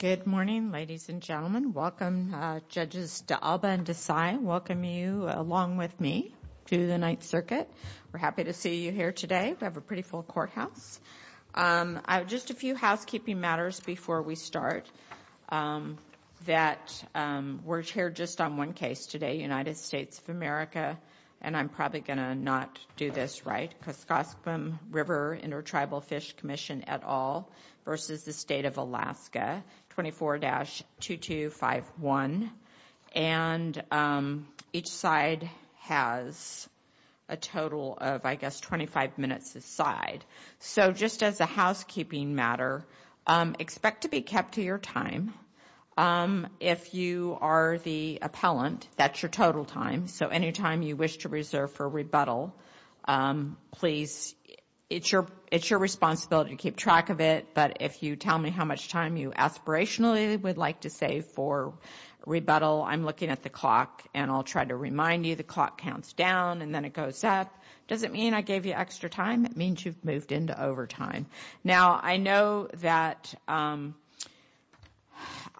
Good morning, ladies and gentlemen. Welcome, Judges D'Alba and D'Cy. Welcome you along with me to the Ninth Circuit. We're happy to see you here today. We have a pretty full courthouse. Just a few housekeeping matters before we start. We're here just on one case today, United States of America, and I'm probably going to not do this right. Kaskaskum River Intertribal Fish Commission et al. versus the State of Alaska, 24-2251. And each side has a total of, I guess, 25 minutes a side. So just as a housekeeping matter, expect to be kept to your time. If you are the appellant, that's your total time. So any time you wish to reserve for rebuttal, please, it's your responsibility to keep track of it. But if you tell me how much time you aspirationally would like to save for rebuttal, I'm looking at the clock, and I'll try to remind you the clock counts down and then it goes up. Does it mean I gave you extra time? That means you've moved into overtime. Now, I know that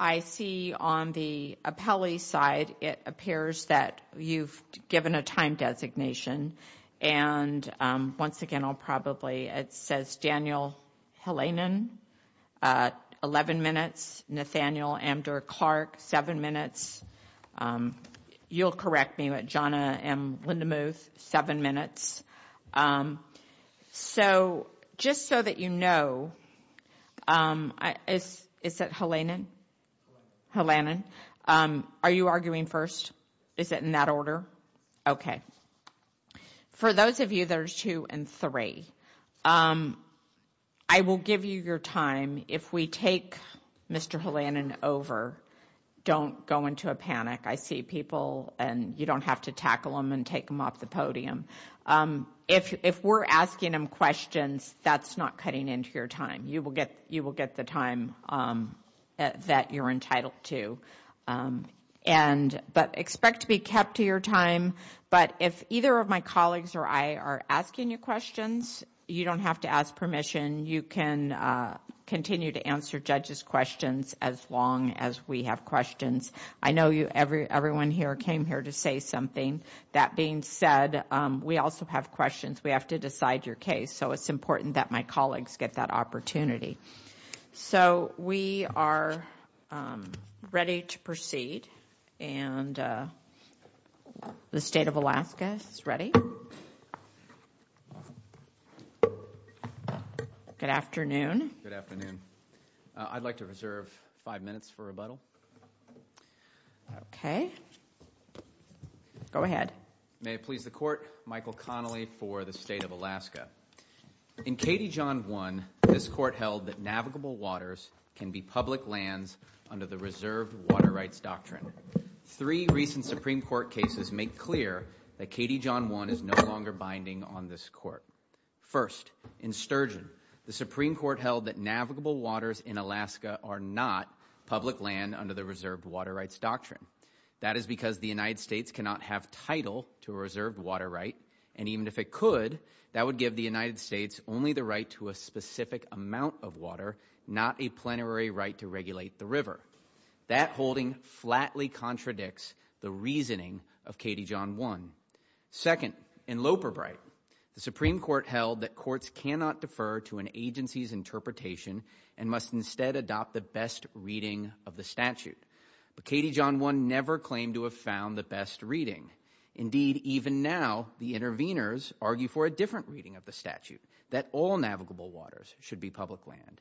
I see on the appellee side, it appears that you've given a time designation. And once again, I'll probably, it says Daniel Helanen, 11 minutes. Nathaniel Amdur-Clark, 7 minutes. You'll correct me, but John M. Lindemuth, 7 minutes. So just so that you know, is it Helanen? Helanen. Are you arguing first? Is it in that order? Okay. For those of you that are 2 and 3, I will give you your time. If we take Mr. Helanen over, don't go into a panic. I see people and you don't have to tackle them and take them off the podium. If we're asking them questions, that's not cutting into your time. You will get the time that you're entitled to. But expect to be kept to your time. But if either of my colleagues or I are asking you questions, you don't have to ask permission. You can continue to answer judges' questions as long as we have questions. I know everyone here came here to say something. That being said, we also have questions. We have to decide your case. So it's important that my colleagues get that opportunity. So we are ready to proceed. And the State of Alaska is ready. Good afternoon. Good afternoon. I'd like to reserve five minutes for rebuttal. Okay. Go ahead. May it please the Court. Michael Connolly for the State of Alaska. In KD John 1, this Court held that navigable waters can be public lands under the reserved water rights doctrine. Three recent Supreme Court cases make clear that KD John 1 is no longer binding on this Court. First, in Sturgeon, the Supreme Court held that navigable waters in Alaska are not public land under the reserved water rights doctrine. That is because the United States cannot have title to a reserved water right. And even if it could, that would give the United States only the right to a specific amount of water, not a plenary right to regulate the river. That holding flatly contradicts the reasoning of KD John 1. Second, in Loperbright, the Supreme Court held that courts cannot defer to an agency's interpretation and must instead adopt the best reading of the statute. But KD John 1 never claimed to have found the best reading. Indeed, even now, the interveners argue for a different reading of the statute, that all navigable waters should be public land.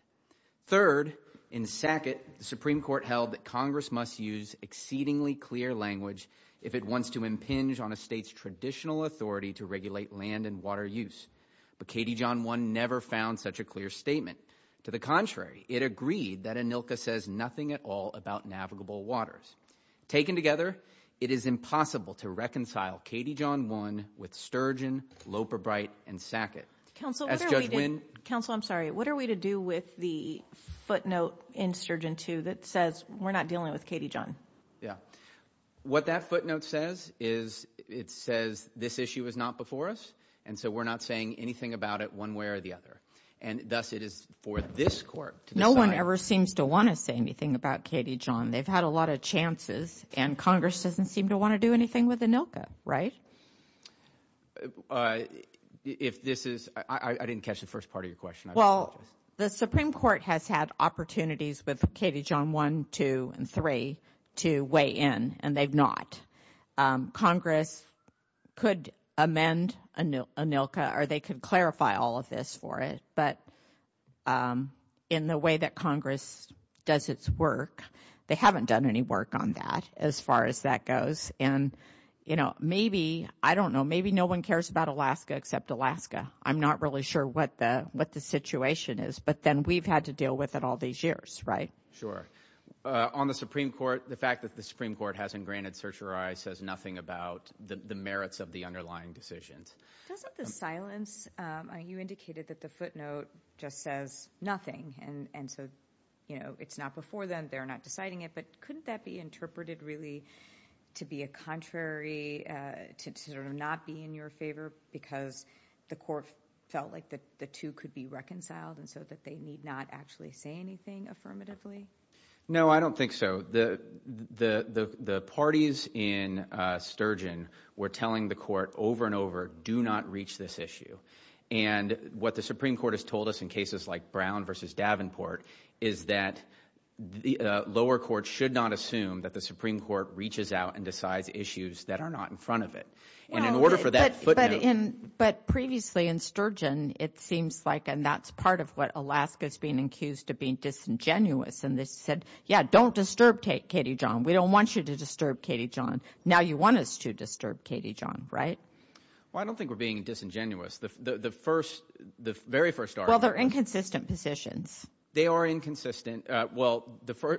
Third, in Sackett, the Supreme Court held that Congress must use exceedingly clear language if it wants to impinge on a state's traditional authority to regulate land and water use. But KD John 1 never found such a clear statement. To the contrary, it agreed that ANILCA says nothing at all about navigable waters. Taken together, it is impossible to reconcile KD John 1 with Sturgeon, Loperbright, and Sackett. Counsel, I'm sorry. What are we to do with the footnote in Sturgeon 2 that says we're not dealing with KD John? Yeah. What that footnote says is it says this issue was not before us, and so we're not saying anything about it one way or the other. And thus it is for this court to decide. No one ever seems to want to say anything about KD John. They've had a lot of chances, and Congress doesn't seem to want to do anything with ANILCA, right? If this is – I didn't catch the first part of your question. Well, the Supreme Court has had opportunities with KD John 1, 2, and 3 to weigh in, and they've not. Congress could amend ANILCA, or they could clarify all of this for it. But in the way that Congress does its work, they haven't done any work on that as far as that goes. And maybe – I don't know – maybe no one cares about Alaska except Alaska. I'm not really sure what the situation is, but then we've had to deal with it all these years, right? Sure. On the Supreme Court, the fact that the Supreme Court hasn't granted certiorari says nothing about the merits of the underlying decisions. Doesn't the silence – you indicated that the footnote just says nothing, and so it's not before them. They're not deciding it, but couldn't that be interpreted really to be a contrary, to sort of not be in your favor because the court felt like the two could be reconciled and so that they need not actually say anything affirmatively? No, I don't think so. The parties in Sturgeon were telling the court over and over, do not reach this issue. And what the Supreme Court has told us in cases like Brown v. Davenport is that the lower court should not assume that the Supreme Court reaches out and decides issues that are not in front of it. And in order for that footnote – But previously in Sturgeon, it seems like – and that's part of what Alaska is being accused of being disingenuous. And they said, yeah, don't disturb Katie John. We don't want you to disturb Katie John. Now you want us to disturb Katie John, right? Well, I don't think we're being disingenuous. The first – the very first argument – Well, they're inconsistent positions. They are inconsistent. Well,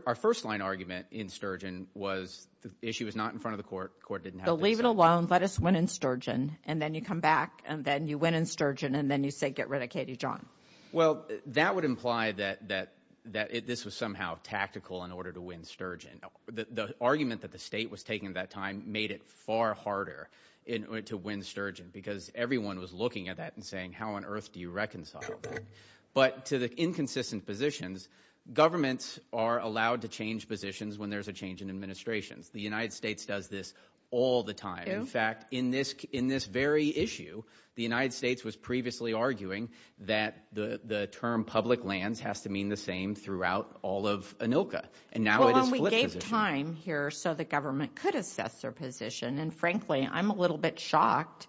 our first-line argument in Sturgeon was the issue is not in front of the court. The court didn't have to do so. So leave it alone. Let us win in Sturgeon, and then you come back, and then you win in Sturgeon, and then you say get rid of Katie John. Well, that would imply that this was somehow tactical in order to win Sturgeon. The argument that the state was taking at that time made it far harder to win Sturgeon because everyone was looking at that and saying, how on earth do you reconcile that? But to the inconsistent positions, governments are allowed to change positions when there's a change in administrations. The United States does this all the time. In fact, in this very issue, the United States was previously arguing that the term public lands has to mean the same throughout all of ANILCA. And now it is flip position. Well, and we gave time here so the government could assess their position. And frankly, I'm a little bit shocked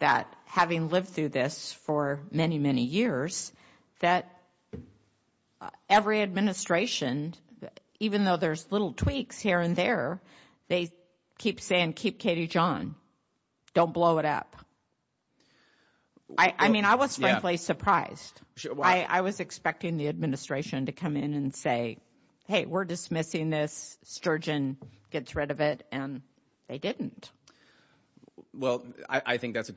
that having lived through this for many, many years, that every administration, even though there's little tweaks here and there, they keep saying keep Katie John. Don't blow it up. I mean I was frankly surprised. I was expecting the administration to come in and say, hey, we're dismissing this. Sturgeon gets rid of it. And they didn't. Well, I think that's a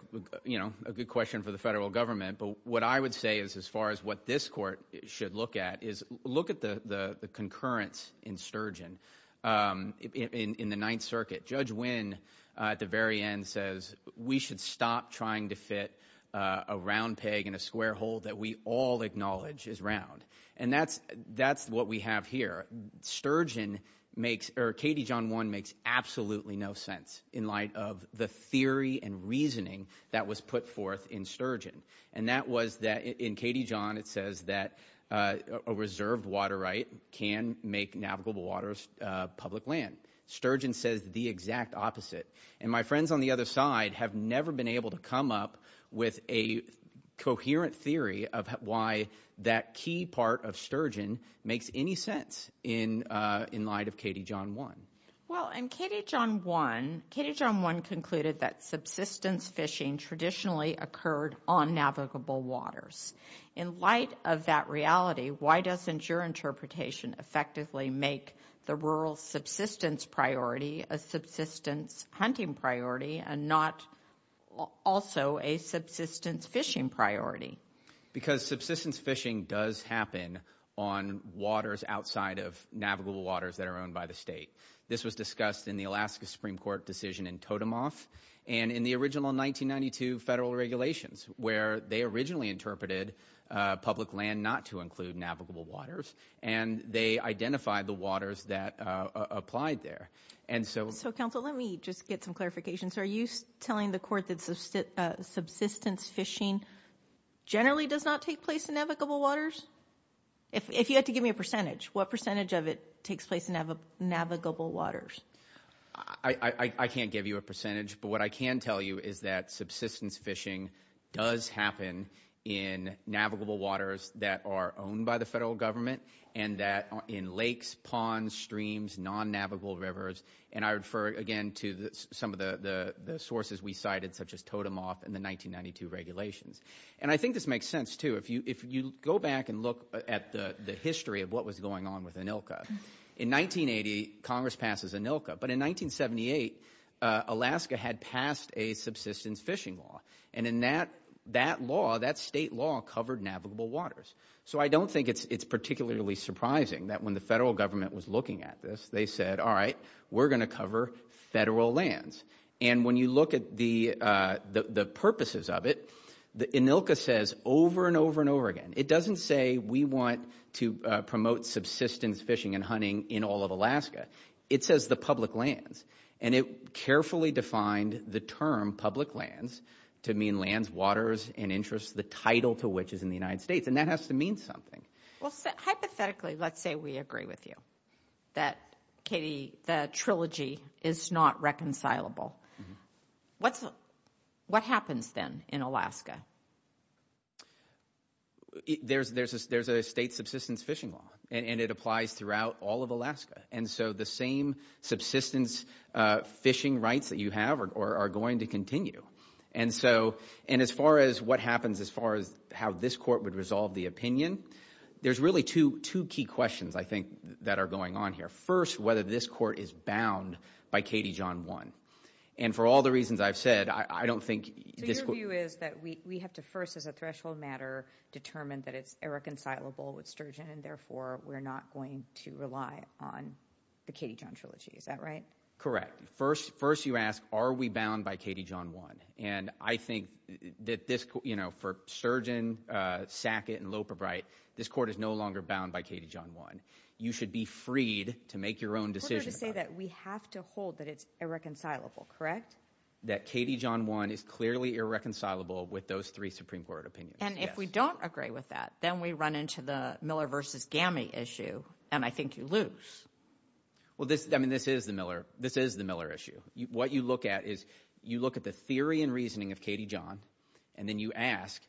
good question for the federal government. But what I would say is as far as what this court should look at is look at the concurrence in Sturgeon in the Ninth Circuit. Judge Wynn at the very end says we should stop trying to fit a round peg in a square hole that we all acknowledge is round. And that's what we have here. Sturgeon makes or Katie John 1 makes absolutely no sense in light of the theory and reasoning that was put forth in Sturgeon. And that was that in Katie John it says that a reserved water right can make navigable waters public land. Sturgeon says the exact opposite. And my friends on the other side have never been able to come up with a coherent theory of why that key part of Sturgeon makes any sense in light of Katie John 1. Well, in Katie John 1, Katie John 1 concluded that subsistence fishing traditionally occurred on navigable waters. In light of that reality, why doesn't your interpretation effectively make the rural subsistence priority a subsistence hunting priority and not also a subsistence fishing priority? Because subsistence fishing does happen on waters outside of navigable waters that are owned by the state. This was discussed in the Alaska Supreme Court decision in Totemoff and in the original 1992 federal regulations where they originally interpreted public land not to include navigable waters. And they identified the waters that applied there. And so. So, counsel, let me just get some clarification. So are you telling the court that subsistence fishing generally does not take place in navigable waters? If you had to give me a percentage, what percentage of it takes place in navigable waters? I can't give you a percentage. But what I can tell you is that subsistence fishing does happen in navigable waters that are owned by the federal government and that in lakes, ponds, streams, non-navigable rivers. And I refer, again, to some of the sources we cited such as Totemoff and the 1992 regulations. And I think this makes sense, too. If you go back and look at the history of what was going on with ANILCA, in 1980, Congress passes ANILCA. But in 1978, Alaska had passed a subsistence fishing law. And in that law, that state law covered navigable waters. So I don't think it's particularly surprising that when the federal government was looking at this, they said, all right, we're going to cover federal lands. And when you look at the purposes of it, ANILCA says over and over and over again, it doesn't say we want to promote subsistence fishing and hunting in all of Alaska. It says the public lands. And it carefully defined the term public lands to mean lands, waters, and interests, the title to which is in the United States. And that has to mean something. Well, hypothetically, let's say we agree with you that, Katie, the trilogy is not reconcilable. What happens then in Alaska? There's a state subsistence fishing law. And it applies throughout all of Alaska. And so the same subsistence fishing rights that you have are going to continue. And so as far as what happens as far as how this court would resolve the opinion, there's really two key questions, I think, that are going on here. First, whether this court is bound by Katie John 1. And for all the reasons I've said, I don't think this court — Is that right? Correct. First, you ask, are we bound by Katie John 1? And I think that this, you know, for Sturgeon, Sackett, and Loperbright, this court is no longer bound by Katie John 1. You should be freed to make your own decision. We're going to say that we have to hold that it's irreconcilable, correct? That Katie John 1 is clearly irreconcilable with those three Supreme Court opinions. And if we don't agree with that, then we run into the Miller v. Gammey issue, and I think you lose. Well, I mean this is the Miller issue. What you look at is you look at the theory and reasoning of Katie John, and then you ask,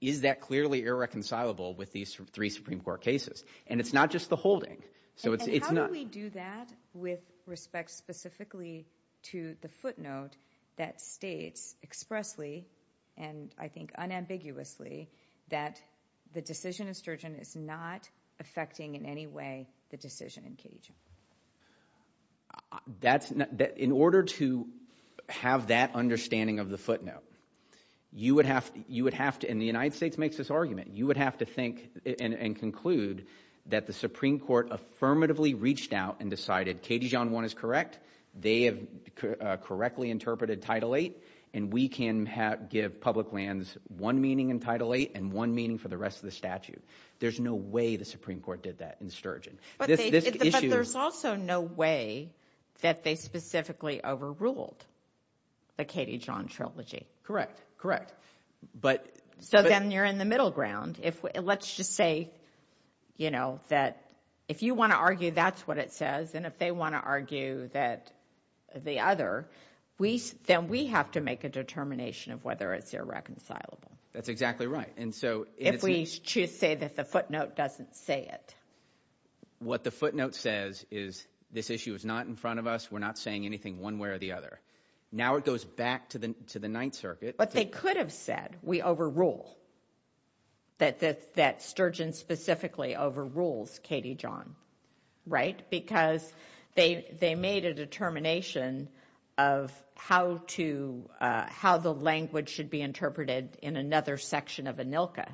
is that clearly irreconcilable with these three Supreme Court cases? And it's not just the holding. And how do we do that with respect specifically to the footnote that states expressly and I think unambiguously that the decision of Sturgeon is not affecting in any way the decision in Katie John? That's – in order to have that understanding of the footnote, you would have to – and the United States makes this argument. You would have to think and conclude that the Supreme Court affirmatively reached out and decided Katie John 1 is correct. They have correctly interpreted Title 8, and we can give public lands one meaning in Title 8 and one meaning for the rest of the statute. There's no way the Supreme Court did that in Sturgeon. But there's also no way that they specifically overruled the Katie John trilogy. Correct, correct. But – So then you're in the middle ground. Let's just say that if you want to argue that's what it says and if they want to argue that the other, then we have to make a determination of whether it's irreconcilable. That's exactly right. If we choose to say that the footnote doesn't say it. What the footnote says is this issue is not in front of us. We're not saying anything one way or the other. Now it goes back to the Ninth Circuit. But they could have said we overrule, that Sturgeon specifically overrules Katie John. Because they made a determination of how to – how the language should be interpreted in another section of ANILCA.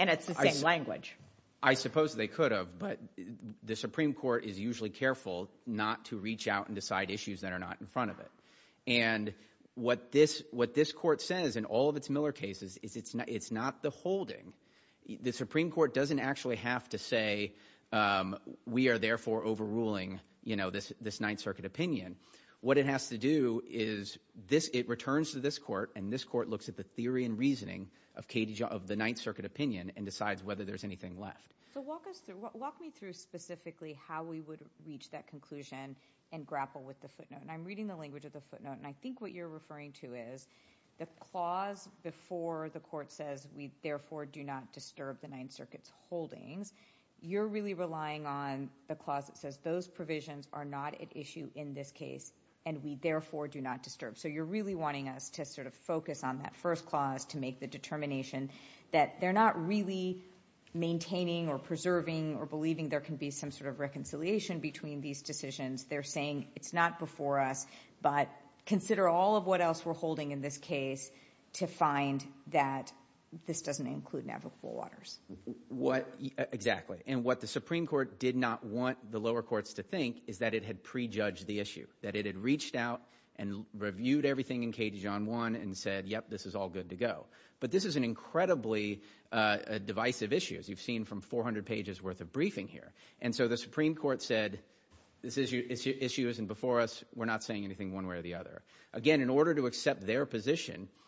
And it's the same language. I suppose they could have, but the Supreme Court is usually careful not to reach out and decide issues that are not in front of it. And what this court says in all of its Miller cases is it's not the holding. The Supreme Court doesn't actually have to say we are therefore overruling this Ninth Circuit opinion. What it has to do is it returns to this court, and this court looks at the theory and reasoning of the Ninth Circuit opinion and decides whether there's anything left. So walk us through – walk me through specifically how we would reach that conclusion and grapple with the footnote. And I'm reading the language of the footnote. And I think what you're referring to is the clause before the court says we therefore do not disturb the Ninth Circuit's holdings. You're really relying on the clause that says those provisions are not at issue in this case, and we therefore do not disturb. So you're really wanting us to sort of focus on that first clause to make the determination that they're not really maintaining or preserving or believing there can be some sort of reconciliation between these decisions. They're saying it's not before us, but consider all of what else we're holding in this case to find that this doesn't include Navajo Full Waters. What – exactly. And what the Supreme Court did not want the lower courts to think is that it had prejudged the issue, that it had reached out and reviewed everything in KJ1 and said, yep, this is all good to go. But this is an incredibly divisive issue, as you've seen from 400 pages worth of briefing here. And so the Supreme Court said this issue isn't before us. We're not saying anything one way or the other. Again, in order to accept their position –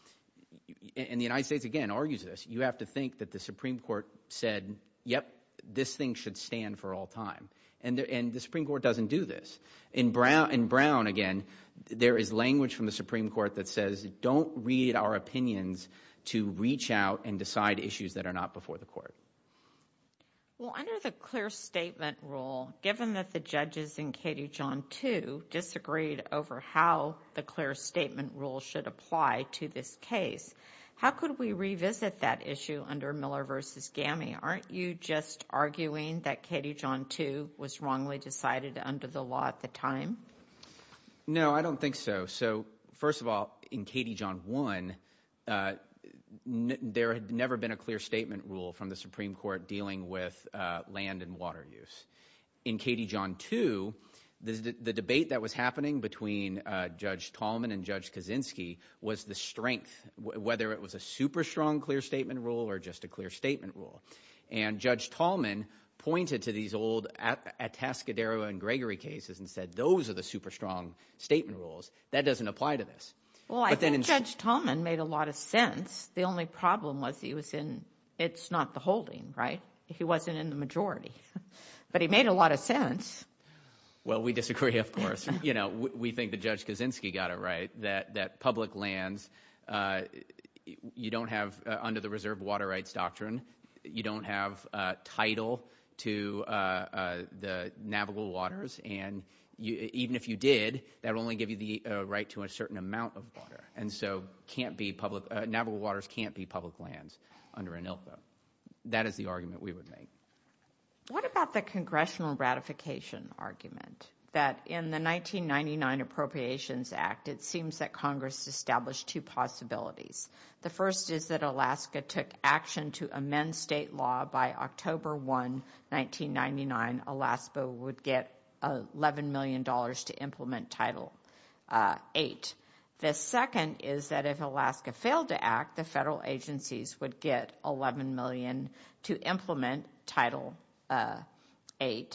and the United States, again, argues this – you have to think that the Supreme Court said, yep, this thing should stand for all time. And the Supreme Court doesn't do this. In Brown, again, there is language from the Supreme Court that says don't read our opinions to reach out and decide issues that are not before the court. Well, under the clear statement rule, given that the judges in KJ2 disagreed over how the clear statement rule should apply to this case, how could we revisit that issue under Miller v. Gammy? Aren't you just arguing that KJ2 was wrongly decided under the law at the time? No, I don't think so. So first of all, in KD1, there had never been a clear statement rule from the Supreme Court dealing with land and water use. In KD2, the debate that was happening between Judge Tallman and Judge Kaczynski was the strength, whether it was a super strong clear statement rule or just a clear statement rule. And Judge Tallman pointed to these old Atascadero and Gregory cases and said those are the super strong statement rules. That doesn't apply to this. Well, I think Judge Tallman made a lot of sense. The only problem was he was in – it's not the holding, right? He wasn't in the majority. But he made a lot of sense. Well, we disagree, of course. We think that Judge Kaczynski got it right, that public lands, you don't have – under the reserve water rights doctrine, you don't have title to the navigable waters. And even if you did, that would only give you the right to a certain amount of water. And so can't be public – navigable waters can't be public lands under ANILFA. That is the argument we would make. What about the congressional ratification argument that in the 1999 Appropriations Act, it seems that Congress established two possibilities. The first is that Alaska took action to amend state law by October 1, 1999. Alaska would get $11 million to implement Title VIII. The second is that if Alaska failed to act, the federal agencies would get $11 million to implement Title VIII.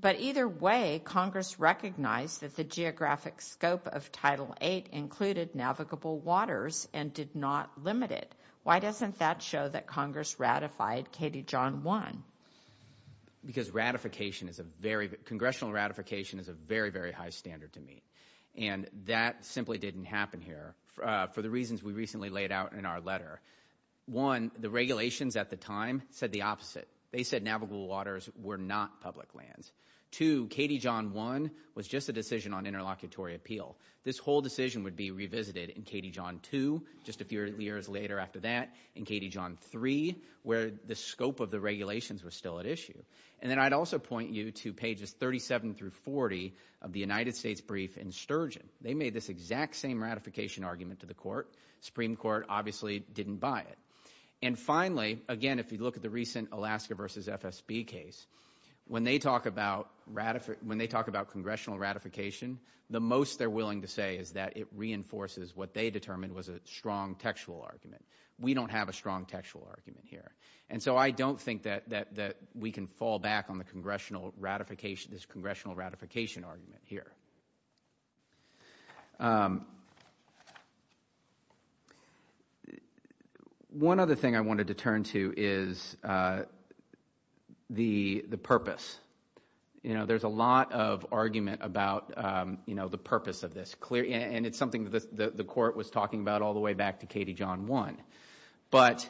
But either way, Congress recognized that the geographic scope of Title VIII included navigable waters and did not limit it. Why doesn't that show that Congress ratified Katie John 1? Because ratification is a very – congressional ratification is a very, very high standard to meet. And that simply didn't happen here for the reasons we recently laid out in our letter. One, the regulations at the time said the opposite. They said navigable waters were not public lands. Two, Katie John 1 was just a decision on interlocutory appeal. This whole decision would be revisited in Katie John 2 just a few years later after that, in Katie John 3, where the scope of the regulations was still at issue. And then I'd also point you to pages 37 through 40 of the United States brief in Sturgeon. They made this exact same ratification argument to the court. Supreme Court obviously didn't buy it. And finally, again, if you look at the recent Alaska v. FSB case, when they talk about congressional ratification, the most they're willing to say is that it reinforces what they determined was a strong textual argument. We don't have a strong textual argument here. And so I don't think that we can fall back on the congressional ratification, this congressional ratification argument here. One other thing I wanted to turn to is the purpose. You know, there's a lot of argument about, you know, the purpose of this. And it's something that the court was talking about all the way back to Katie John 1. But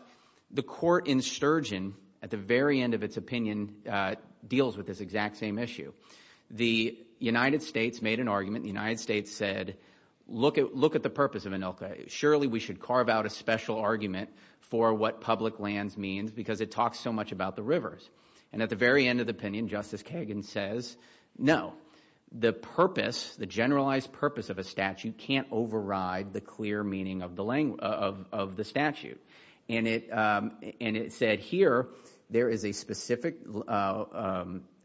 the court in Sturgeon, at the very end of its opinion, deals with this exact same issue. The United States made an argument. The United States said, look at the purpose of ANILCA. Surely we should carve out a special argument for what public lands means because it talks so much about the rivers. And at the very end of the opinion, Justice Kagan says, no, the purpose, the generalized purpose of a statute can't override the clear meaning of the statute. And it said here there is a specific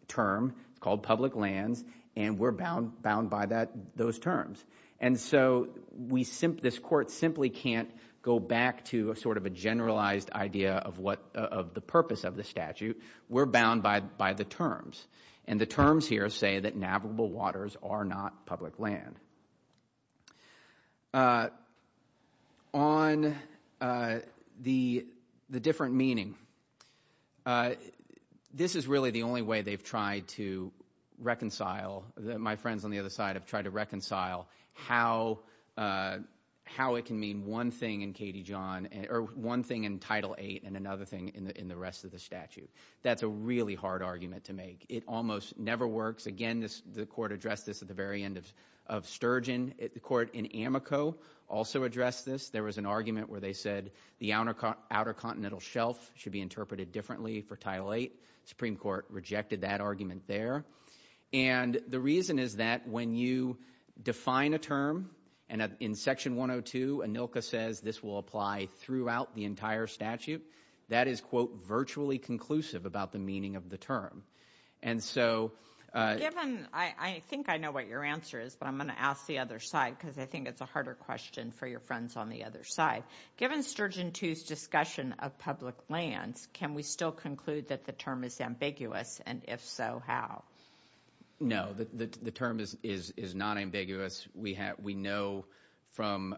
term called public lands, and we're bound by those terms. And so this court simply can't go back to sort of a generalized idea of the purpose of the statute. We're bound by the terms. And the terms here say that navigable waters are not public land. On the different meaning, this is really the only way they've tried to reconcile. My friends on the other side have tried to reconcile how it can mean one thing in Katie John or one thing in Title VIII and another thing in the rest of the statute. That's a really hard argument to make. It almost never works. Again, the court addressed this at the very end of Sturgeon. The court in Amoco also addressed this. There was an argument where they said the Outer Continental Shelf should be interpreted differently for Title VIII. The Supreme Court rejected that argument there. And the reason is that when you define a term, and in Section 102, ANILCA says this will apply throughout the entire statute, that is, quote, virtually conclusive about the meaning of the term. I think I know what your answer is, but I'm going to ask the other side because I think it's a harder question for your friends on the other side. Given Sturgeon II's discussion of public lands, can we still conclude that the term is ambiguous? And if so, how? No, the term is not ambiguous. We know from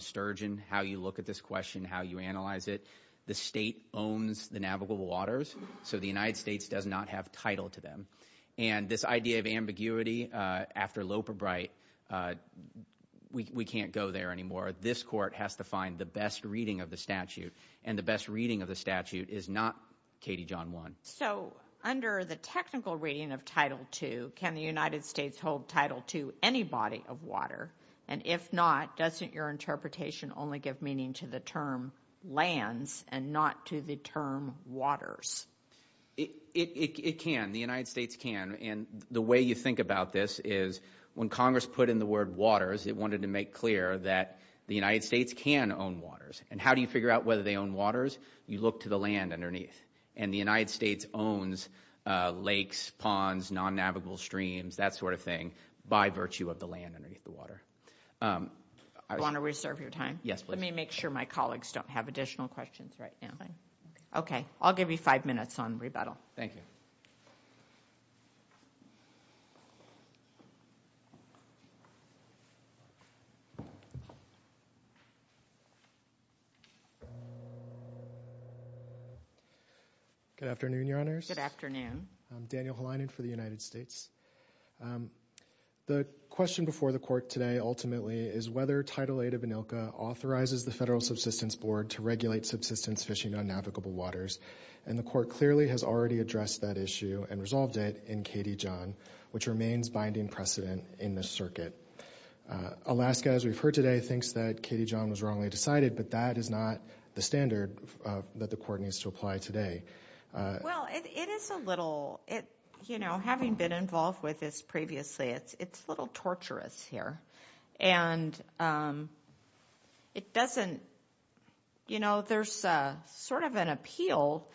Sturgeon how you look at this question, how you analyze it. The state owns the navigable waters. So the United States does not have title to them. And this idea of ambiguity after Loperbright, we can't go there anymore. This court has to find the best reading of the statute, and the best reading of the statute is not Katie John One. So under the technical reading of Title II, can the United States hold Title II any body of water? And if not, doesn't your interpretation only give meaning to the term lands and not to the term waters? It can. The United States can. And the way you think about this is when Congress put in the word waters, it wanted to make clear that the United States can own waters. And how do you figure out whether they own waters? You look to the land underneath. And the United States owns lakes, ponds, non-navigable streams, that sort of thing, by virtue of the land underneath the water. I want to reserve your time. Yes, please. Let me make sure my colleagues don't have additional questions right now. Okay. I'll give you five minutes on rebuttal. Thank you. Good afternoon, Your Honors. Good afternoon. I'm Daniel Helinen for the United States. The question before the Court today, ultimately, is whether Title VIII of ANILCA authorizes the Federal Subsistence Board to regulate subsistence fishing on navigable waters. And the Court clearly has already addressed that issue and resolved it in Katie John, which remains binding precedent in this circuit. Alaska, as we've heard today, thinks that Katie John was wrongly decided, but that is not the standard that the Court needs to apply today. Well, it is a little – you know, having been involved with this previously, it's a little torturous here. And it doesn't – you know, there's sort of an appeal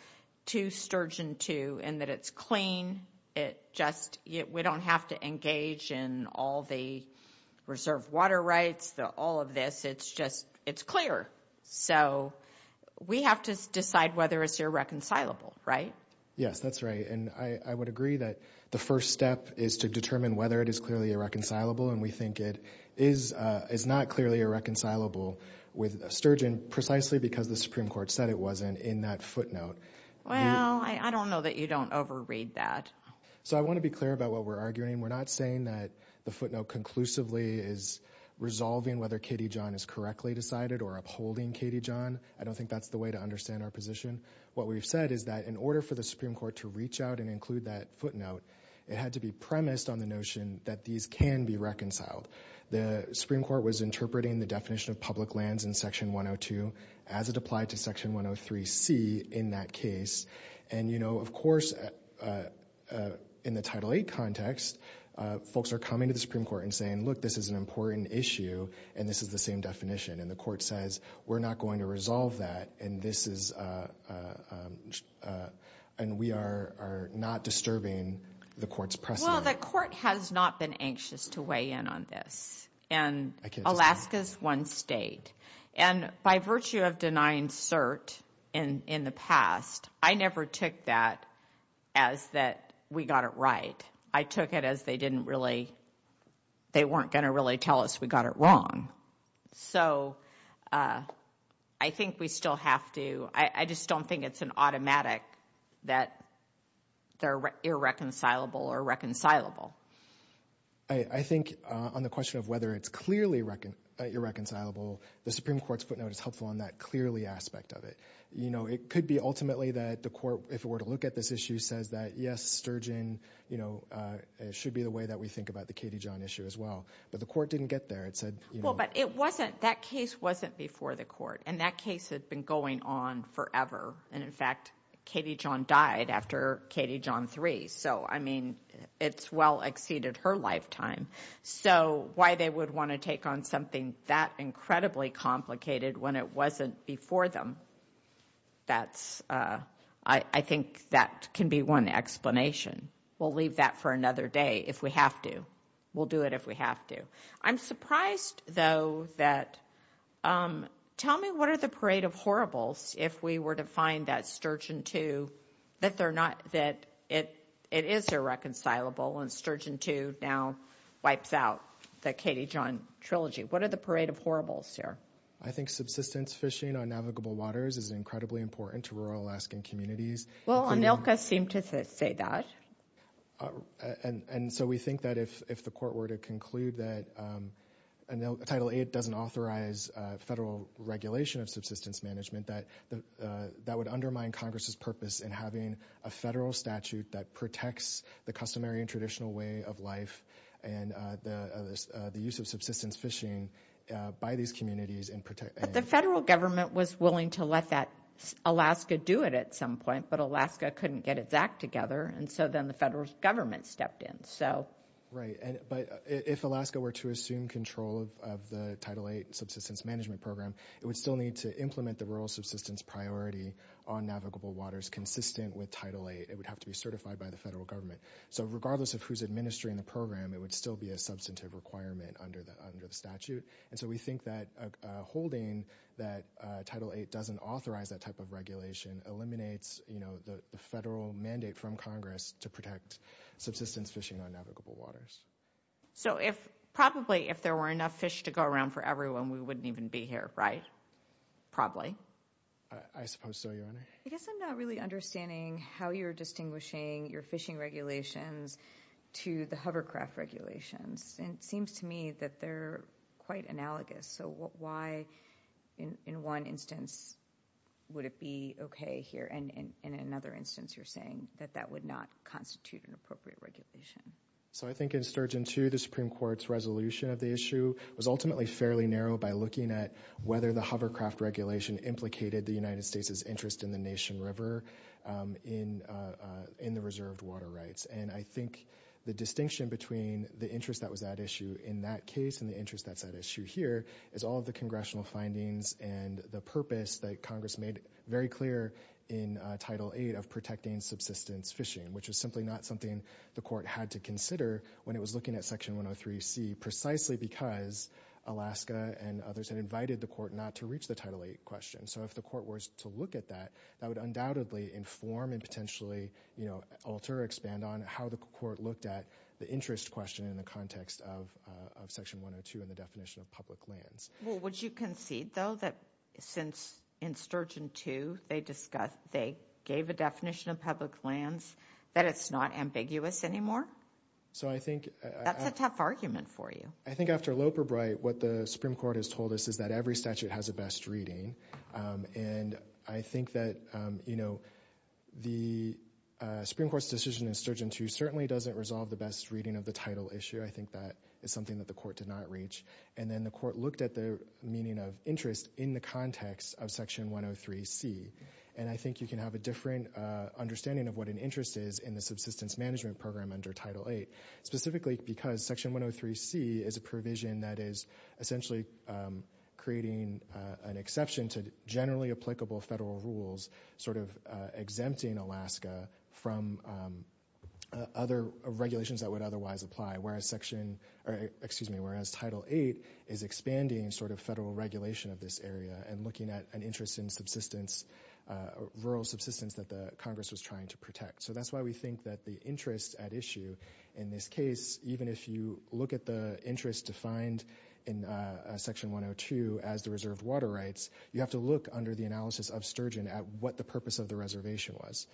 to Sturgeon II in that it's clean. It just – we don't have to engage in all the reserve water rights, all of this. It's just – it's clear. So we have to decide whether it's irreconcilable, right? Yes, that's right. And I would agree that the first step is to determine whether it is clearly irreconcilable. And we think it is not clearly irreconcilable with Sturgeon precisely because the Supreme Court said it wasn't in that footnote. Well, I don't know that you don't overread that. So I want to be clear about what we're arguing. We're not saying that the footnote conclusively is resolving whether Katie John is correctly decided or upholding Katie John. I don't think that's the way to understand our position. What we've said is that in order for the Supreme Court to reach out and include that footnote, it had to be premised on the notion that these can be reconciled. The Supreme Court was interpreting the definition of public lands in Section 102 as it applied to Section 103C in that case. And, you know, of course, in the Title VIII context, folks are coming to the Supreme Court and saying, look, this is an important issue and this is the same definition. And the court says we're not going to resolve that and this is – and we are not disturbing the court's precedent. Well, the court has not been anxious to weigh in on this. And Alaska is one state. And by virtue of denying cert in the past, I never took that as that we got it right. I took it as they didn't really – they weren't going to really tell us we got it wrong. So I think we still have to – I just don't think it's an automatic that they're irreconcilable or reconcilable. I think on the question of whether it's clearly irreconcilable, the Supreme Court's footnote is helpful on that clearly aspect of it. You know, it could be ultimately that the court, if it were to look at this issue, says that, yes, Sturgeon, you know, it should be the way that we think about the Katie John issue as well. But the court didn't get there. It said – Well, but it wasn't – that case wasn't before the court. And that case had been going on forever. And, in fact, Katie John died after Katie John III. So, I mean, it's well exceeded her lifetime. So why they would want to take on something that incredibly complicated when it wasn't before them, that's – I think that can be one explanation. We'll leave that for another day if we have to. We'll do it if we have to. I'm surprised, though, that – tell me what are the parade of horribles if we were to find that Sturgeon II, that they're not – that it is irreconcilable and Sturgeon II now wipes out the Katie John trilogy. What are the parade of horribles here? I think subsistence fishing on navigable waters is incredibly important to rural Alaskan communities. Well, Onilka seemed to say that. And so we think that if the court were to conclude that Title VIII doesn't authorize federal regulation of subsistence management, that that would undermine Congress's purpose in having a federal statute that protects the customary and traditional way of life and the use of subsistence fishing by these communities and protect – But the federal government was willing to let that – Alaska do it at some point, but Alaska couldn't get its act together, and so then the federal government stepped in. So – But if Alaska were to assume control of the Title VIII subsistence management program, it would still need to implement the rural subsistence priority on navigable waters consistent with Title VIII. It would have to be certified by the federal government. So regardless of who's administering the program, it would still be a substantive requirement under the statute. And so we think that holding that Title VIII doesn't authorize that type of regulation eliminates, you know, the federal mandate from Congress to protect subsistence fishing on navigable waters. So if – probably if there were enough fish to go around for everyone, we wouldn't even be here, right? Probably. I suppose so, Your Honor. I guess I'm not really understanding how you're distinguishing your fishing regulations to the hovercraft regulations. And it seems to me that they're quite analogous. So why, in one instance, would it be okay here, and in another instance you're saying that that would not constitute an appropriate regulation? So I think in Sturgeon 2, the Supreme Court's resolution of the issue was ultimately fairly narrow by looking at whether the hovercraft regulation implicated the United States' interest in the Nation River in the reserved water rights. And I think the distinction between the interest that was at issue in that case and the interest that's at issue here is all of the congressional findings and the purpose that Congress made very clear in Title VIII of protecting subsistence fishing, which was simply not something the court had to consider when it was looking at Section 103C, precisely because Alaska and others had invited the court not to reach the Title VIII question. So if the court were to look at that, that would undoubtedly inform and potentially alter or expand on how the court looked at the interest question in the context of Section 102 and the definition of public lands. Well, would you concede, though, that since in Sturgeon 2 they gave a definition of public lands that it's not ambiguous anymore? That's a tough argument for you. I think after Loeb or Bright, what the Supreme Court has told us is that every statute has a best reading. And I think that the Supreme Court's decision in Sturgeon 2 certainly doesn't resolve the best reading of the title issue. I think that is something that the court did not reach. And then the court looked at the meaning of interest in the context of Section 103C. And I think you can have a different understanding of what an interest is in the subsistence management program under Title VIII, specifically because Section 103C is a provision that is essentially creating an exception to generally applicable federal rules, sort of exempting Alaska from other regulations that would otherwise apply, whereas Title VIII is expanding sort of federal regulation of this area and looking at an interest in rural subsistence that the Congress was trying to protect. So that's why we think that the interest at issue in this case, even if you look at the interest defined in Section 102 as the reserved water rights, you have to look under the analysis of Sturgeon at what the purpose of the reservation was.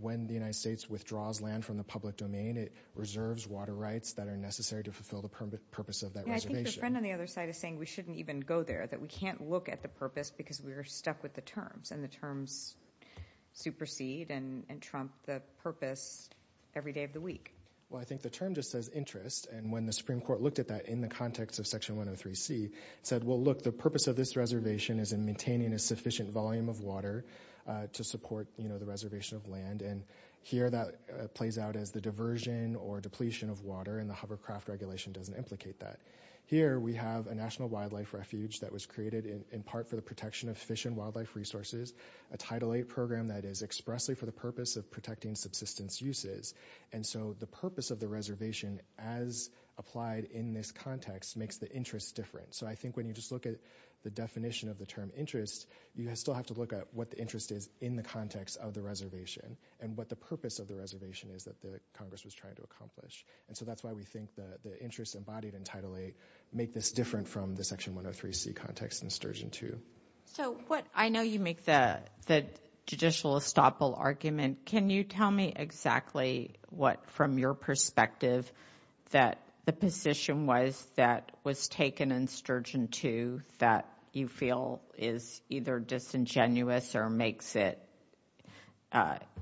When the United States withdraws land from the public domain, it reserves water rights that are necessary to fulfill the purpose of that reservation. I think your friend on the other side is saying we shouldn't even go there, that we can't look at the purpose because we are stuck with the terms. And the terms supersede and trump the purpose every day of the week. Well, I think the term just says interest. And when the Supreme Court looked at that in the context of Section 103C, it said, well, look, the purpose of this reservation is in maintaining a sufficient volume of water to support the reservation of land. And here that plays out as the diversion or depletion of water. And the hovercraft regulation doesn't implicate that. Here we have a national wildlife refuge that was created in part for the protection of fish and wildlife resources. A Title VIII program that is expressly for the purpose of protecting subsistence uses. And so the purpose of the reservation as applied in this context makes the interest different. So I think when you just look at the definition of the term interest, you still have to look at what the interest is in the context of the reservation and what the purpose of the reservation is that the Congress was trying to accomplish. And so that's why we think the interest embodied in Title VIII make this different from the Section 103C context in Sturgeon II. So I know you make the judicial estoppel argument. Can you tell me exactly what, from your perspective, that the position was that was taken in Sturgeon II that you feel is either disingenuous or makes it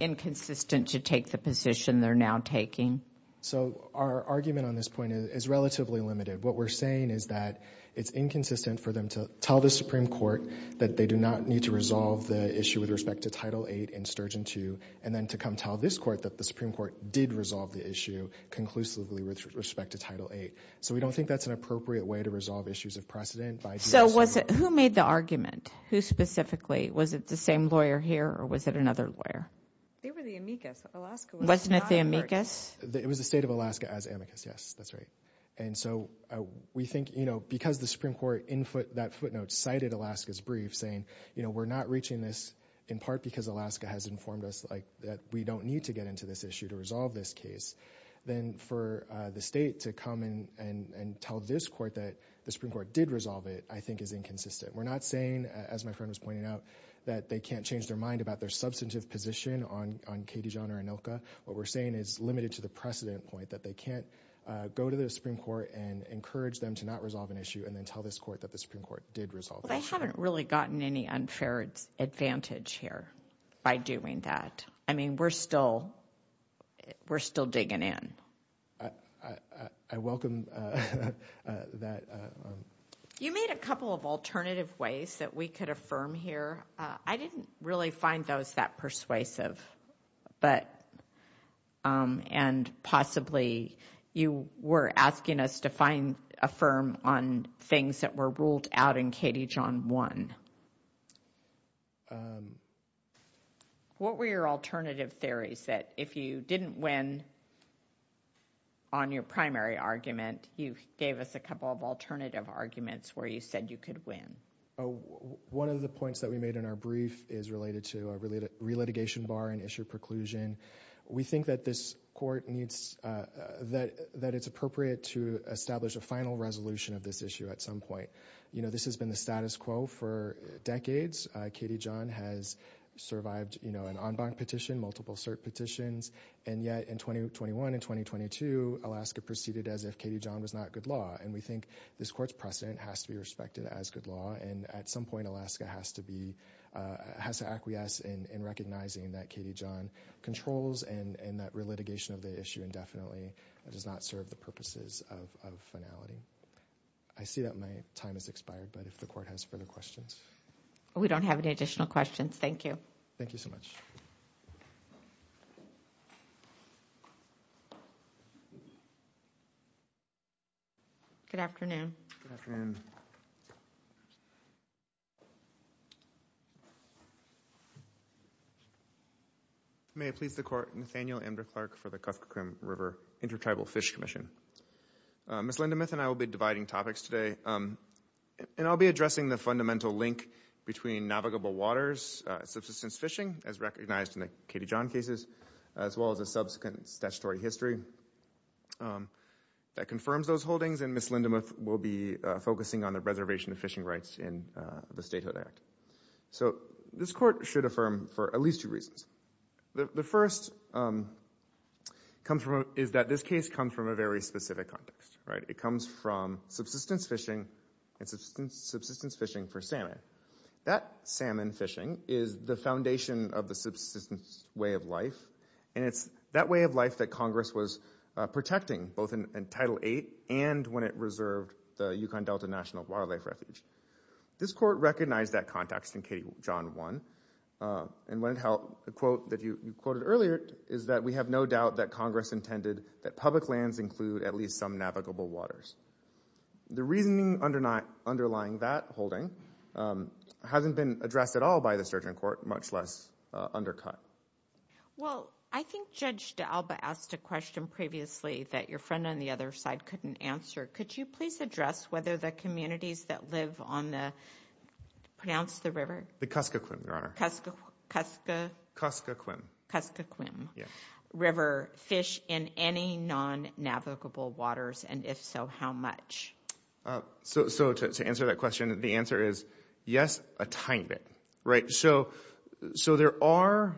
inconsistent to take the position they're now taking? So our argument on this point is relatively limited. What we're saying is that it's inconsistent for them to tell the Supreme Court that they do not need to resolve the issue with respect to Title VIII in Sturgeon II and then to come tell this court that the Supreme Court did resolve the issue conclusively with respect to Title VIII. So we don't think that's an appropriate way to resolve issues of precedent. So who made the argument? Who specifically? Was it the same lawyer here or was it another lawyer? They were the amicus. Alaska was not the amicus. It was the state of Alaska as amicus, yes. That's right. And so we think, you know, because the Supreme Court in that footnote cited Alaska's brief saying, you know, we're not reaching this in part because Alaska has informed us that we don't need to get into this issue to resolve this case. Then for the state to come in and tell this court that the Supreme Court did resolve it, I think, is inconsistent. We're not saying, as my friend was pointing out, that they can't change their mind about their substantive position on Katie John or ANILCA. What we're saying is limited to the precedent point that they can't go to the Supreme Court and encourage them to not resolve an issue and then tell this court that the Supreme Court did resolve it. They haven't really gotten any unfair advantage here by doing that. I mean, we're still we're still digging in. I welcome that. You made a couple of alternative ways that we could affirm here. I didn't really find those that persuasive. But and possibly you were asking us to find affirm on things that were ruled out in Katie John one. What were your alternative theories that if you didn't win on your primary argument, you gave us a couple of alternative arguments where you said you could win. One of the points that we made in our brief is related to a related re-litigation bar and issue preclusion. We think that this court needs that that it's appropriate to establish a final resolution of this issue at some point. You know, this has been the status quo for decades. Katie John has survived, you know, an en banc petition, multiple cert petitions. And yet in 2021 and 2022, Alaska proceeded as if Katie John was not good law. And we think this court's precedent has to be respected as good law. And at some point, Alaska has to be has to acquiesce in recognizing that Katie John controls and that re-litigation of the issue indefinitely does not serve the purposes of finality. I see that my time has expired. But if the court has further questions. We don't have any additional questions. Thank you. Thank you so much. Good afternoon. May it please the court. Nathaniel and Clark for the River Intertribal Fish Commission. Ms. Lindemuth and I will be dividing topics today. And I'll be addressing the fundamental link between navigable waters, subsistence fishing, as recognized in the Katie John cases, as well as a subsequent statutory history that confirms those holdings. And Ms. Lindemuth will be focusing on the reservation of fishing rights in the Statehood Act. So this court should affirm for at least two reasons. The first is that this case comes from a very specific context. It comes from subsistence fishing and subsistence fishing for salmon. That salmon fishing is the foundation of the subsistence way of life. And it's that way of life that Congress was protecting both in Title VIII and when it reserved the Yukon Delta National Wildlife Refuge. This court recognized that context in Katie John I. And when it held a quote that you quoted earlier is that we have no doubt that Congress intended that public lands include at least some navigable waters. The reasoning underlying that holding hasn't been addressed at all by the Surgeon Court, much less undercut. Well, I think Judge D'Alba asked a question previously that your friend on the other side couldn't answer. Could you please address whether the communities that live on the, pronounce the river. The Kuskokwim, Your Honor. Kuskokwim. Kuskokwim. River fish in any non-navigable waters? And if so, how much? So to answer that question, the answer is yes, a tiny bit. Right. So there are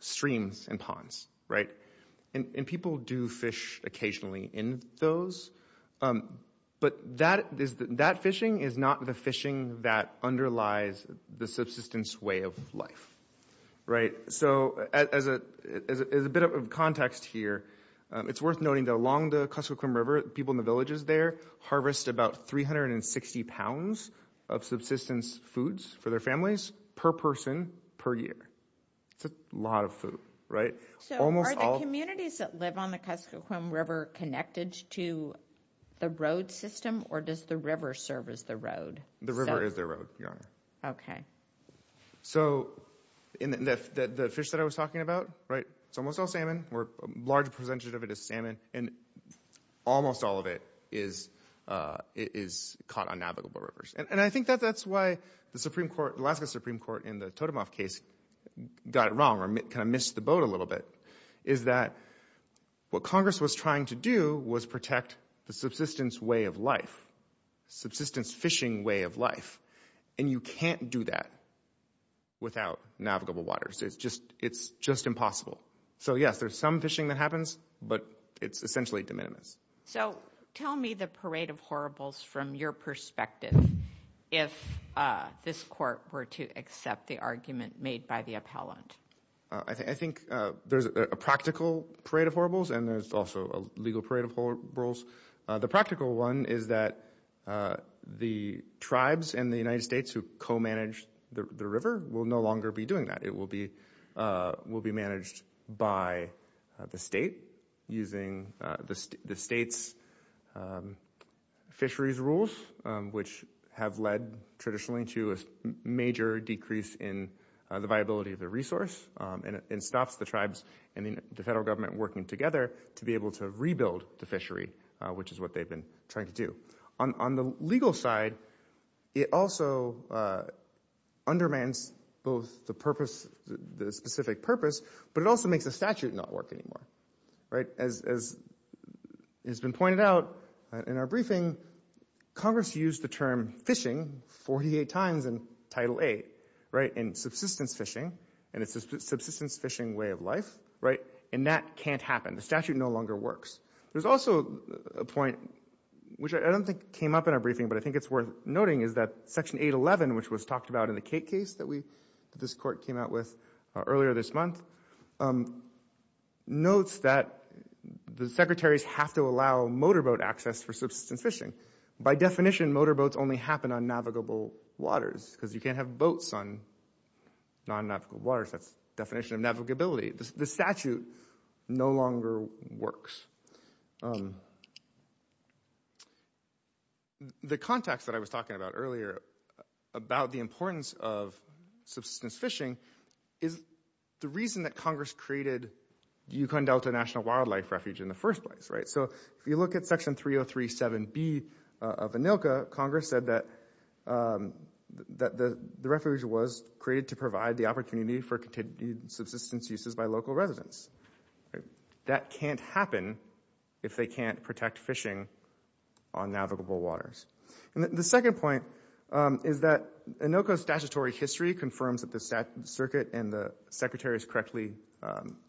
streams and ponds. Right. And people do fish occasionally in those. But that fishing is not the fishing that underlies the subsistence way of life. Right. So as a bit of context here, it's worth noting that along the Kuskokwim River, people in the villages there harvest about 360 pounds of subsistence foods for their families per person per year. That's a lot of food. Right. So are the communities that live on the Kuskokwim River connected to the road system or does the river serve as the road? The river is the road, Your Honor. Okay. So the fish that I was talking about, right, it's almost all salmon. A large percentage of it is salmon. And almost all of it is caught on navigable rivers. And I think that that's why the Alaska Supreme Court in the Totemoff case got it wrong or kind of missed the boat a little bit is that what Congress was trying to do was protect the subsistence way of life, subsistence fishing way of life. And you can't do that without navigable waters. It's just impossible. So, yes, there's some fishing that happens, but it's essentially de minimis. So tell me the parade of horribles from your perspective if this court were to accept the argument made by the appellant. I think there's a practical parade of horribles and there's also a legal parade of horribles. The practical one is that the tribes and the United States who co-manage the river will no longer be doing that. It will be managed by the state using the state's fisheries rules, which have led traditionally to a major decrease in the viability of the resource. And it stops the tribes and the federal government working together to be able to rebuild the fishery, which is what they've been trying to do. On the legal side, it also undermines both the specific purpose, but it also makes the statute not work anymore. As has been pointed out in our briefing, Congress used the term fishing 48 times in Title VIII in subsistence fishing, and it's a subsistence fishing way of life. And that can't happen. The statute no longer works. There's also a point, which I don't think came up in our briefing, but I think it's worth noting is that Section 811, which was talked about in the Cate case that this court came out with earlier this month, notes that the secretaries have to allow motorboat access for subsistence fishing. By definition, motorboats only happen on navigable waters because you can't have boats on non-navigable waters. That's the definition of navigability. The statute no longer works. The context that I was talking about earlier about the importance of subsistence fishing is the reason that Congress created the Yukon Delta National Wildlife Refuge in the first place. If you look at Section 3037B of ANILCA, Congress said that the refuge was created to provide the opportunity for continued subsistence uses by local residents. That can't happen if they can't protect fishing on navigable waters. The second point is that ANILCA's statutory history confirms that the circuit and the secretaries correctly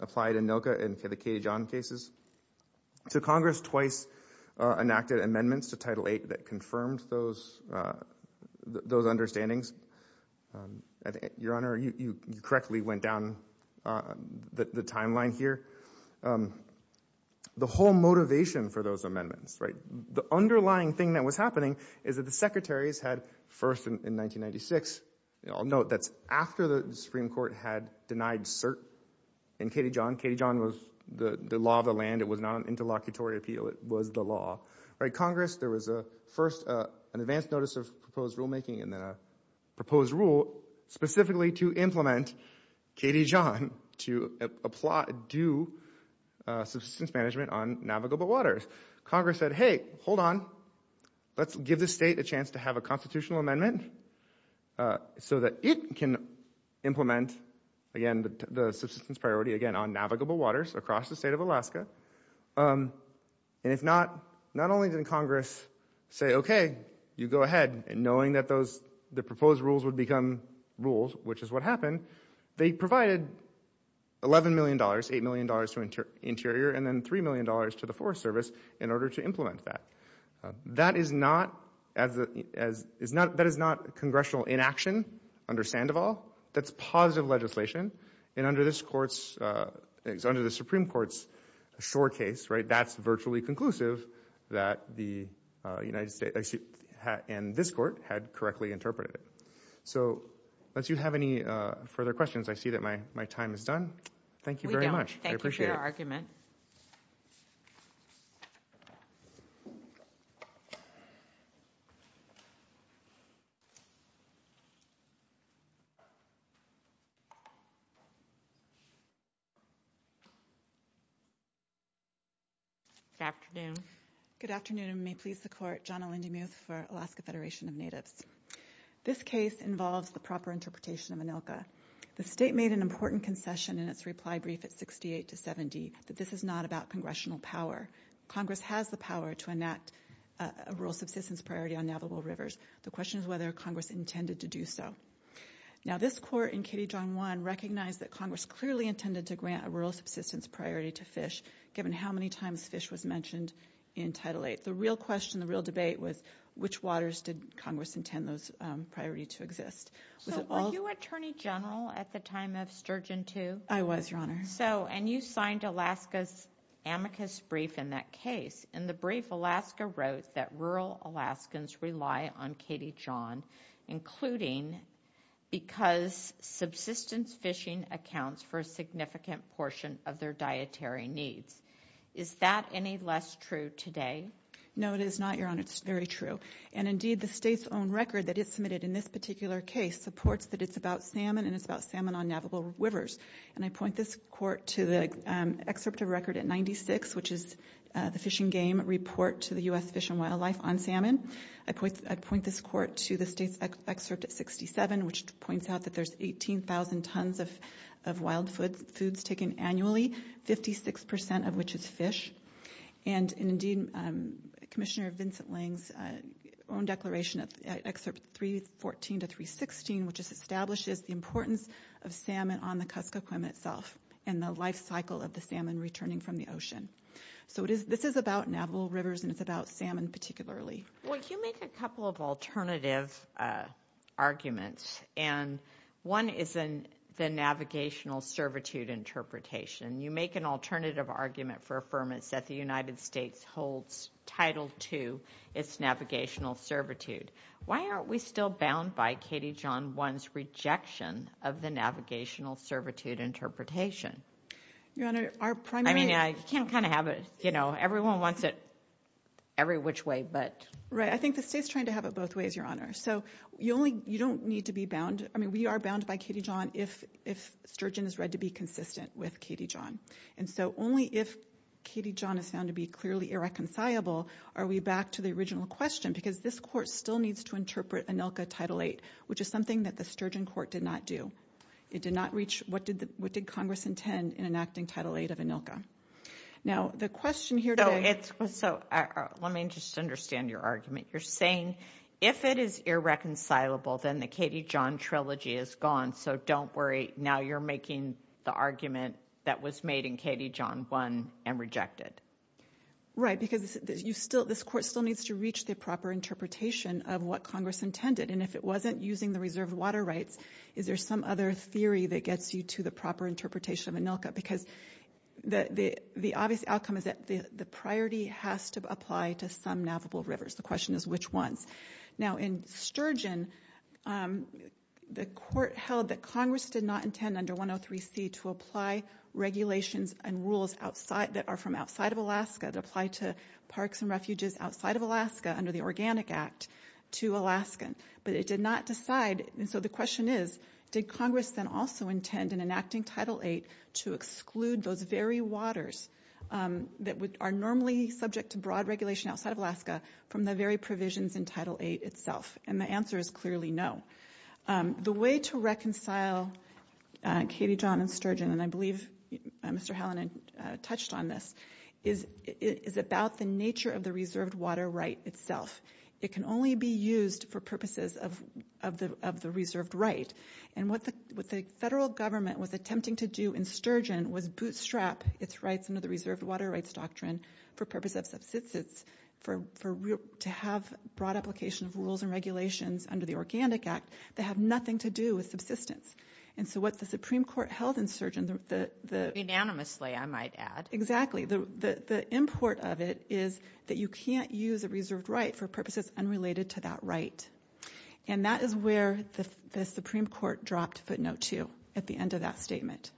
applied ANILCA in the Cate John cases. Congress twice enacted amendments to Title VIII that confirmed those understandings. Your Honor, you correctly went down the timeline here. The whole motivation for those amendments, the underlying thing that was happening is that the secretaries had first in 1996, I'll note that's after the Supreme Court had denied cert in Cate John. Cate John was the law of the land. It was not an interlocutory appeal. It was the law. Congress, there was first an advance notice of proposed rulemaking and then a proposed rule specifically to implement Cate John to do subsistence management on navigable waters. Congress said, hey, hold on. Let's give the state a chance to have a constitutional amendment so that it can implement, again, the subsistence priority, again, on navigable waters across the state of Alaska. And if not, not only did Congress say, okay, you go ahead, and knowing that the proposed rules would become rules, which is what happened, they provided $11 million, $8 million to Interior and then $3 million to the Forest Service in order to implement that. That is not congressional inaction under Sandoval. That's positive legislation. And under the Supreme Court's short case, that's virtually conclusive that the United States and this court had correctly interpreted it. So unless you have any further questions, I see that my time is done. Thank you very much. I appreciate it. Thank you for your argument. Good afternoon. Good afternoon, and may it please the Court. Johnna Lindy-Muth for Alaska Federation of Natives. This case involves the proper interpretation of ANILCA. The state made an important concession in its reply brief at 68 to 70 that this is not about congressional power. Congress has the power to enact a rule subsistence priority on navigable rivers. The question is whether Congress intended to do so. Now, this court in Katie John 1 recognized that Congress clearly intended to grant a rule subsistence priority to fish, given how many times fish was mentioned in Title 8. The real question, the real debate was which waters did Congress intend those priority to exist. So were you Attorney General at the time of Sturgeon 2? I was, Your Honor. So, and you signed Alaska's amicus brief in that case. In the brief, Alaska wrote that rural Alaskans rely on Katie John, including because subsistence fishing accounts for a significant portion of their dietary needs. Is that any less true today? No, it is not, Your Honor. It's very true. And, indeed, the state's own record that is submitted in this particular case supports that it's about salmon and it's about salmon on navigable rivers. And I point this court to the excerpt of record at 96, which is the Fishing Game Report to the U.S. Fish and Wildlife on Salmon. I point this court to the state's excerpt at 67, which points out that there's 18,000 tons of wild foods taken annually, 56% of which is fish. And, indeed, Commissioner Vincent Lange's own declaration, Excerpt 314 to 316, which establishes the importance of salmon on the Kuskokwim itself and the life cycle of the salmon returning from the ocean. So this is about navigable rivers and it's about salmon particularly. Well, can you make a couple of alternative arguments? And one is the navigational servitude interpretation. You make an alternative argument for affirmance that the United States holds Title II as navigational servitude. Why aren't we still bound by Katie John 1's rejection of the navigational servitude interpretation? Your Honor, our primary— I mean, you can't kind of have it, you know, everyone wants it every which way, but— Right, I think the state's trying to have it both ways, Your Honor. So you don't need to be bound. I mean, we are bound by Katie John if Sturgeon is read to be consistent with Katie John. And so only if Katie John is found to be clearly irreconcilable are we back to the original question because this Court still needs to interpret ANILCA Title VIII, which is something that the Sturgeon Court did not do. It did not reach what did Congress intend in enacting Title VIII of ANILCA. Now, the question here today— So let me just understand your argument. You're saying if it is irreconcilable, then the Katie John trilogy is gone. So don't worry. Now you're making the argument that was made in Katie John 1 and rejected. Right, because this Court still needs to reach the proper interpretation of what Congress intended. And if it wasn't using the reserved water rights, is there some other theory that gets you to the proper interpretation of ANILCA? Because the obvious outcome is that the priority has to apply to some navigable rivers. The question is which ones. Now, in Sturgeon, the Court held that Congress did not intend under 103C to apply regulations and rules that are from outside of Alaska to apply to parks and refuges outside of Alaska under the Organic Act to Alaskan. But it did not decide— And so the question is, did Congress then also intend in enacting Title VIII to exclude those very waters that are normally subject to broad regulation outside of Alaska from the very provisions in Title VIII itself? And the answer is clearly no. The way to reconcile Katie John and Sturgeon, and I believe Mr. Hallinan touched on this, is about the nature of the reserved water right itself. It can only be used for purposes of the reserved right. And what the federal government was attempting to do in Sturgeon was bootstrap its rights under the reserved water rights doctrine for purposes of subsistence, to have broad application of rules and regulations under the Organic Act that have nothing to do with subsistence. And so what the Supreme Court held in Sturgeon— Unanimously, I might add. Exactly. The import of it is that you can't use a reserved right for purposes unrelated to that right. And that is where the Supreme Court dropped footnote two at the end of that statement.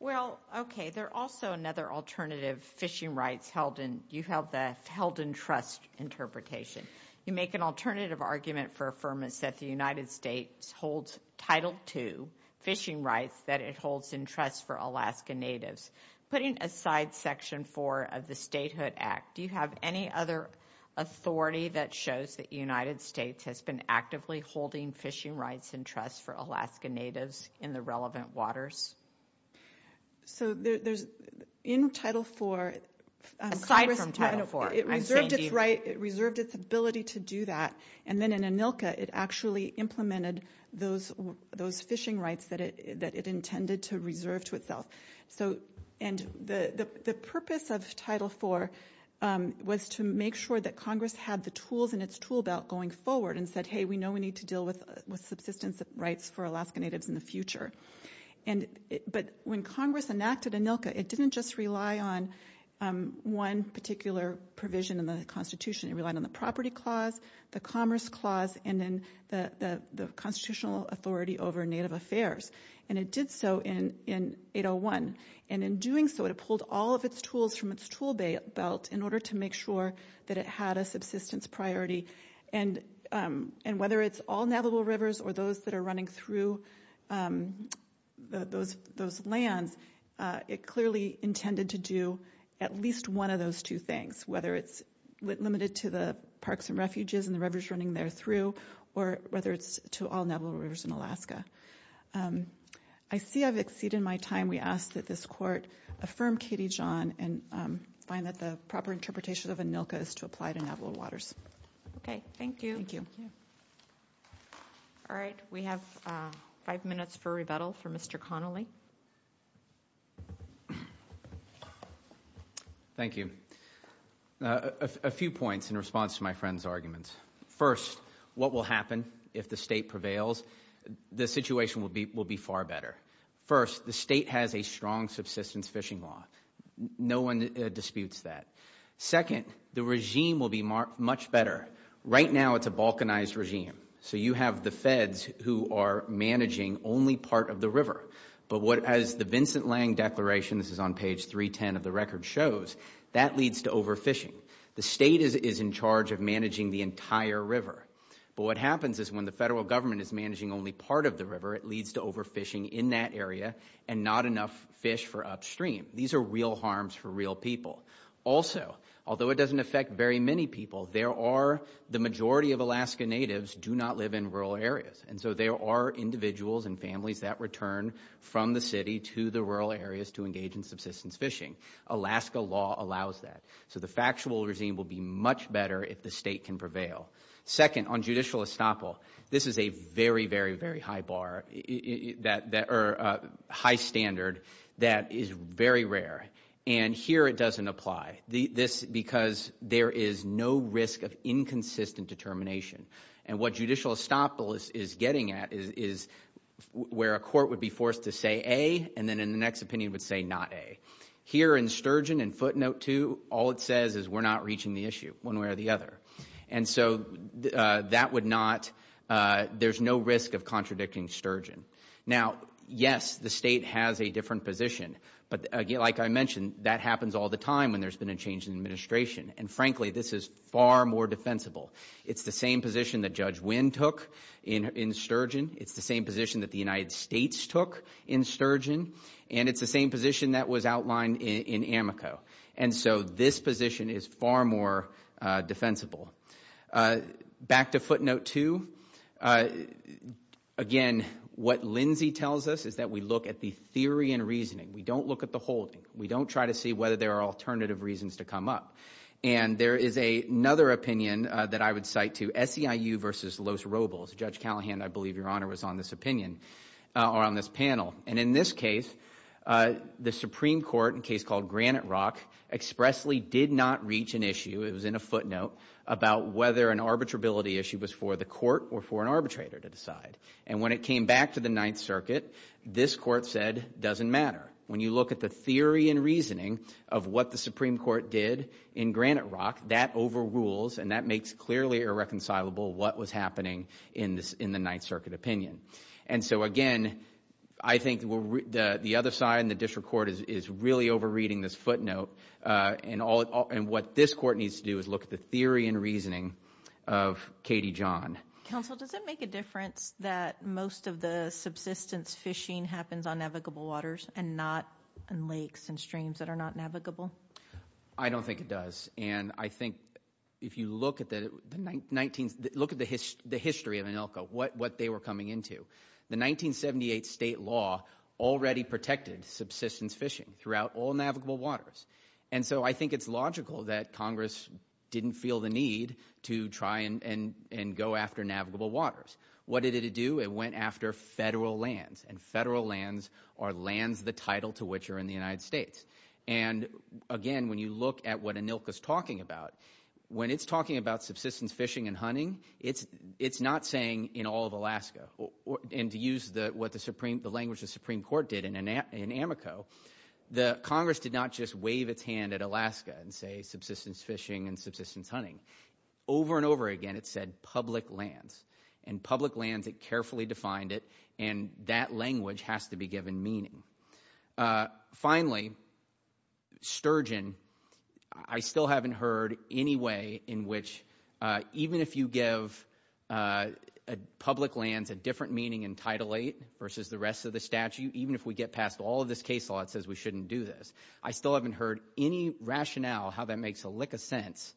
Well, okay. There are also another alternative fishing rights held in—you held in trust interpretation. You make an alternative argument for affirmance that the United States holds Title II fishing rights that it holds in trust for Alaska Natives. Putting aside Section IV of the Statehood Act, do you have any other authority that shows that the United States has been actively holding fishing rights in trust for Alaska Natives in the relevant waters? So there's—in Title IV— Aside from Title IV. It reserved its right. It reserved its ability to do that. And then in ANILCA, it actually implemented those fishing rights that it intended to reserve to itself. And the purpose of Title IV was to make sure that Congress had the tools in its tool belt going forward and said, hey, we know we need to deal with subsistence rights for Alaska Natives in the future. But when Congress enacted ANILCA, it didn't just rely on one particular provision in the Constitution. It relied on the Property Clause, the Commerce Clause, and then the Constitutional Authority over Native Affairs. And it did so in 801. And in doing so, it pulled all of its tools from its tool belt in order to make sure that it had a subsistence priority. And whether it's all navigable rivers or those that are running through those lands, it clearly intended to do at least one of those two things, whether it's limited to the parks and refuges and the rivers running there through or whether it's to all navigable rivers in Alaska. I see I've exceeded my time. We ask that this Court affirm Katie John and find that the proper interpretation of ANILCA is to apply to navigable waters. Okay. Thank you. Thank you. All right. We have five minutes for rebuttal from Mr. Connolly. Thank you. A few points in response to my friend's argument. First, what will happen if the state prevails? The situation will be far better. First, the state has a strong subsistence fishing law. No one disputes that. Second, the regime will be much better. Right now, it's a balkanized regime. So you have the feds who are managing only part of the river. But as the Vincent Lange Declaration, this is on page 310 of the record, shows, that leads to overfishing. The state is in charge of managing the entire river. But what happens is when the federal government is managing only part of the river, it leads to overfishing in that area and not enough fish for upstream. These are real harms for real people. Also, although it doesn't affect very many people, there are the majority of Alaska natives do not live in rural areas. And so there are individuals and families that return from the city to the rural areas to engage in subsistence fishing. Alaska law allows that. So the factual regime will be much better if the state can prevail. Second, on judicial estoppel, this is a very, very, very high bar or high standard that is very rare. And here it doesn't apply because there is no risk of inconsistent determination. And what judicial estoppel is getting at is where a court would be forced to say A and then in the next opinion would say not A. Here in Sturgeon, in footnote 2, all it says is we're not reaching the issue one way or the other. And so that would not, there's no risk of contradicting Sturgeon. Now, yes, the state has a different position. But like I mentioned, that happens all the time when there's been a change in administration. And frankly, this is far more defensible. It's the same position that Judge Wynn took in Sturgeon. It's the same position that the United States took in Sturgeon. And it's the same position that was outlined in Amico. And so this position is far more defensible. Back to footnote 2, again, what Lindsay tells us is that we look at the theory and reasoning. We don't look at the holding. We don't try to see whether there are alternative reasons to come up. And there is another opinion that I would cite too, SEIU versus Los Robles. Judge Callahan, I believe, Your Honor, was on this opinion or on this panel. And in this case, the Supreme Court in a case called Granite Rock expressly did not reach an issue, it was in a footnote, about whether an arbitrability issue was for the court or for an arbitrator to decide. And when it came back to the Ninth Circuit, this court said it doesn't matter. When you look at the theory and reasoning of what the Supreme Court did in Granite Rock, that overrules and that makes clearly irreconcilable what was happening in the Ninth Circuit opinion. And so, again, I think the other side in the district court is really overreading this footnote. And what this court needs to do is look at the theory and reasoning of Katie John. Counsel, does it make a difference that most of the subsistence fishing happens on navigable waters and not in lakes and streams that are not navigable? I don't think it does. And I think if you look at the history of ANILCA, what they were coming into, the 1978 state law already protected subsistence fishing throughout all navigable waters. And so I think it's logical that Congress didn't feel the need to try and go after navigable waters. What did it do? It went after federal lands, and federal lands are lands the title to which are in the United States. And, again, when you look at what ANILCA is talking about, when it's talking about subsistence fishing and hunting, it's not saying in all of Alaska. And to use what the language the Supreme Court did in Amoco, Congress did not just wave its hand at Alaska and say subsistence fishing and subsistence hunting. Over and over again, it said public lands. And public lands, it carefully defined it, and that language has to be given meaning. Finally, sturgeon, I still haven't heard any way in which, even if you give public lands a different meaning in Title VIII versus the rest of the statute, even if we get past all of this case law that says we shouldn't do this, I still haven't heard any rationale how that makes a lick of sense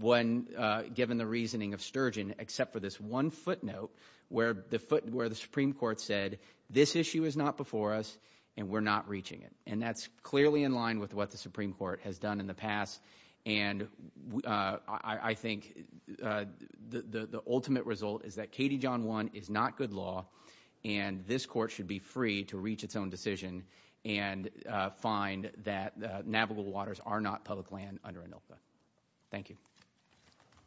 when given the reasoning of sturgeon, except for this one footnote where the Supreme Court said, this issue is not before us and we're not reaching it. And that's clearly in line with what the Supreme Court has done in the past. And I think the ultimate result is that Katie John 1 is not good law, and this court should be free to reach its own decision and find that navigable waters are not public land under ANILCA. Thank you.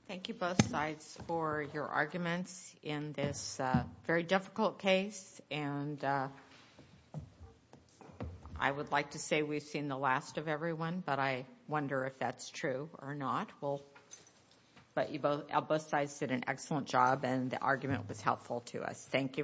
Thank you, both sides, for your arguments in this very difficult case. And I would like to say we've seen the last of everyone, but I wonder if that's true or not. But both sides did an excellent job, and the argument was helpful to us. Thank you very much.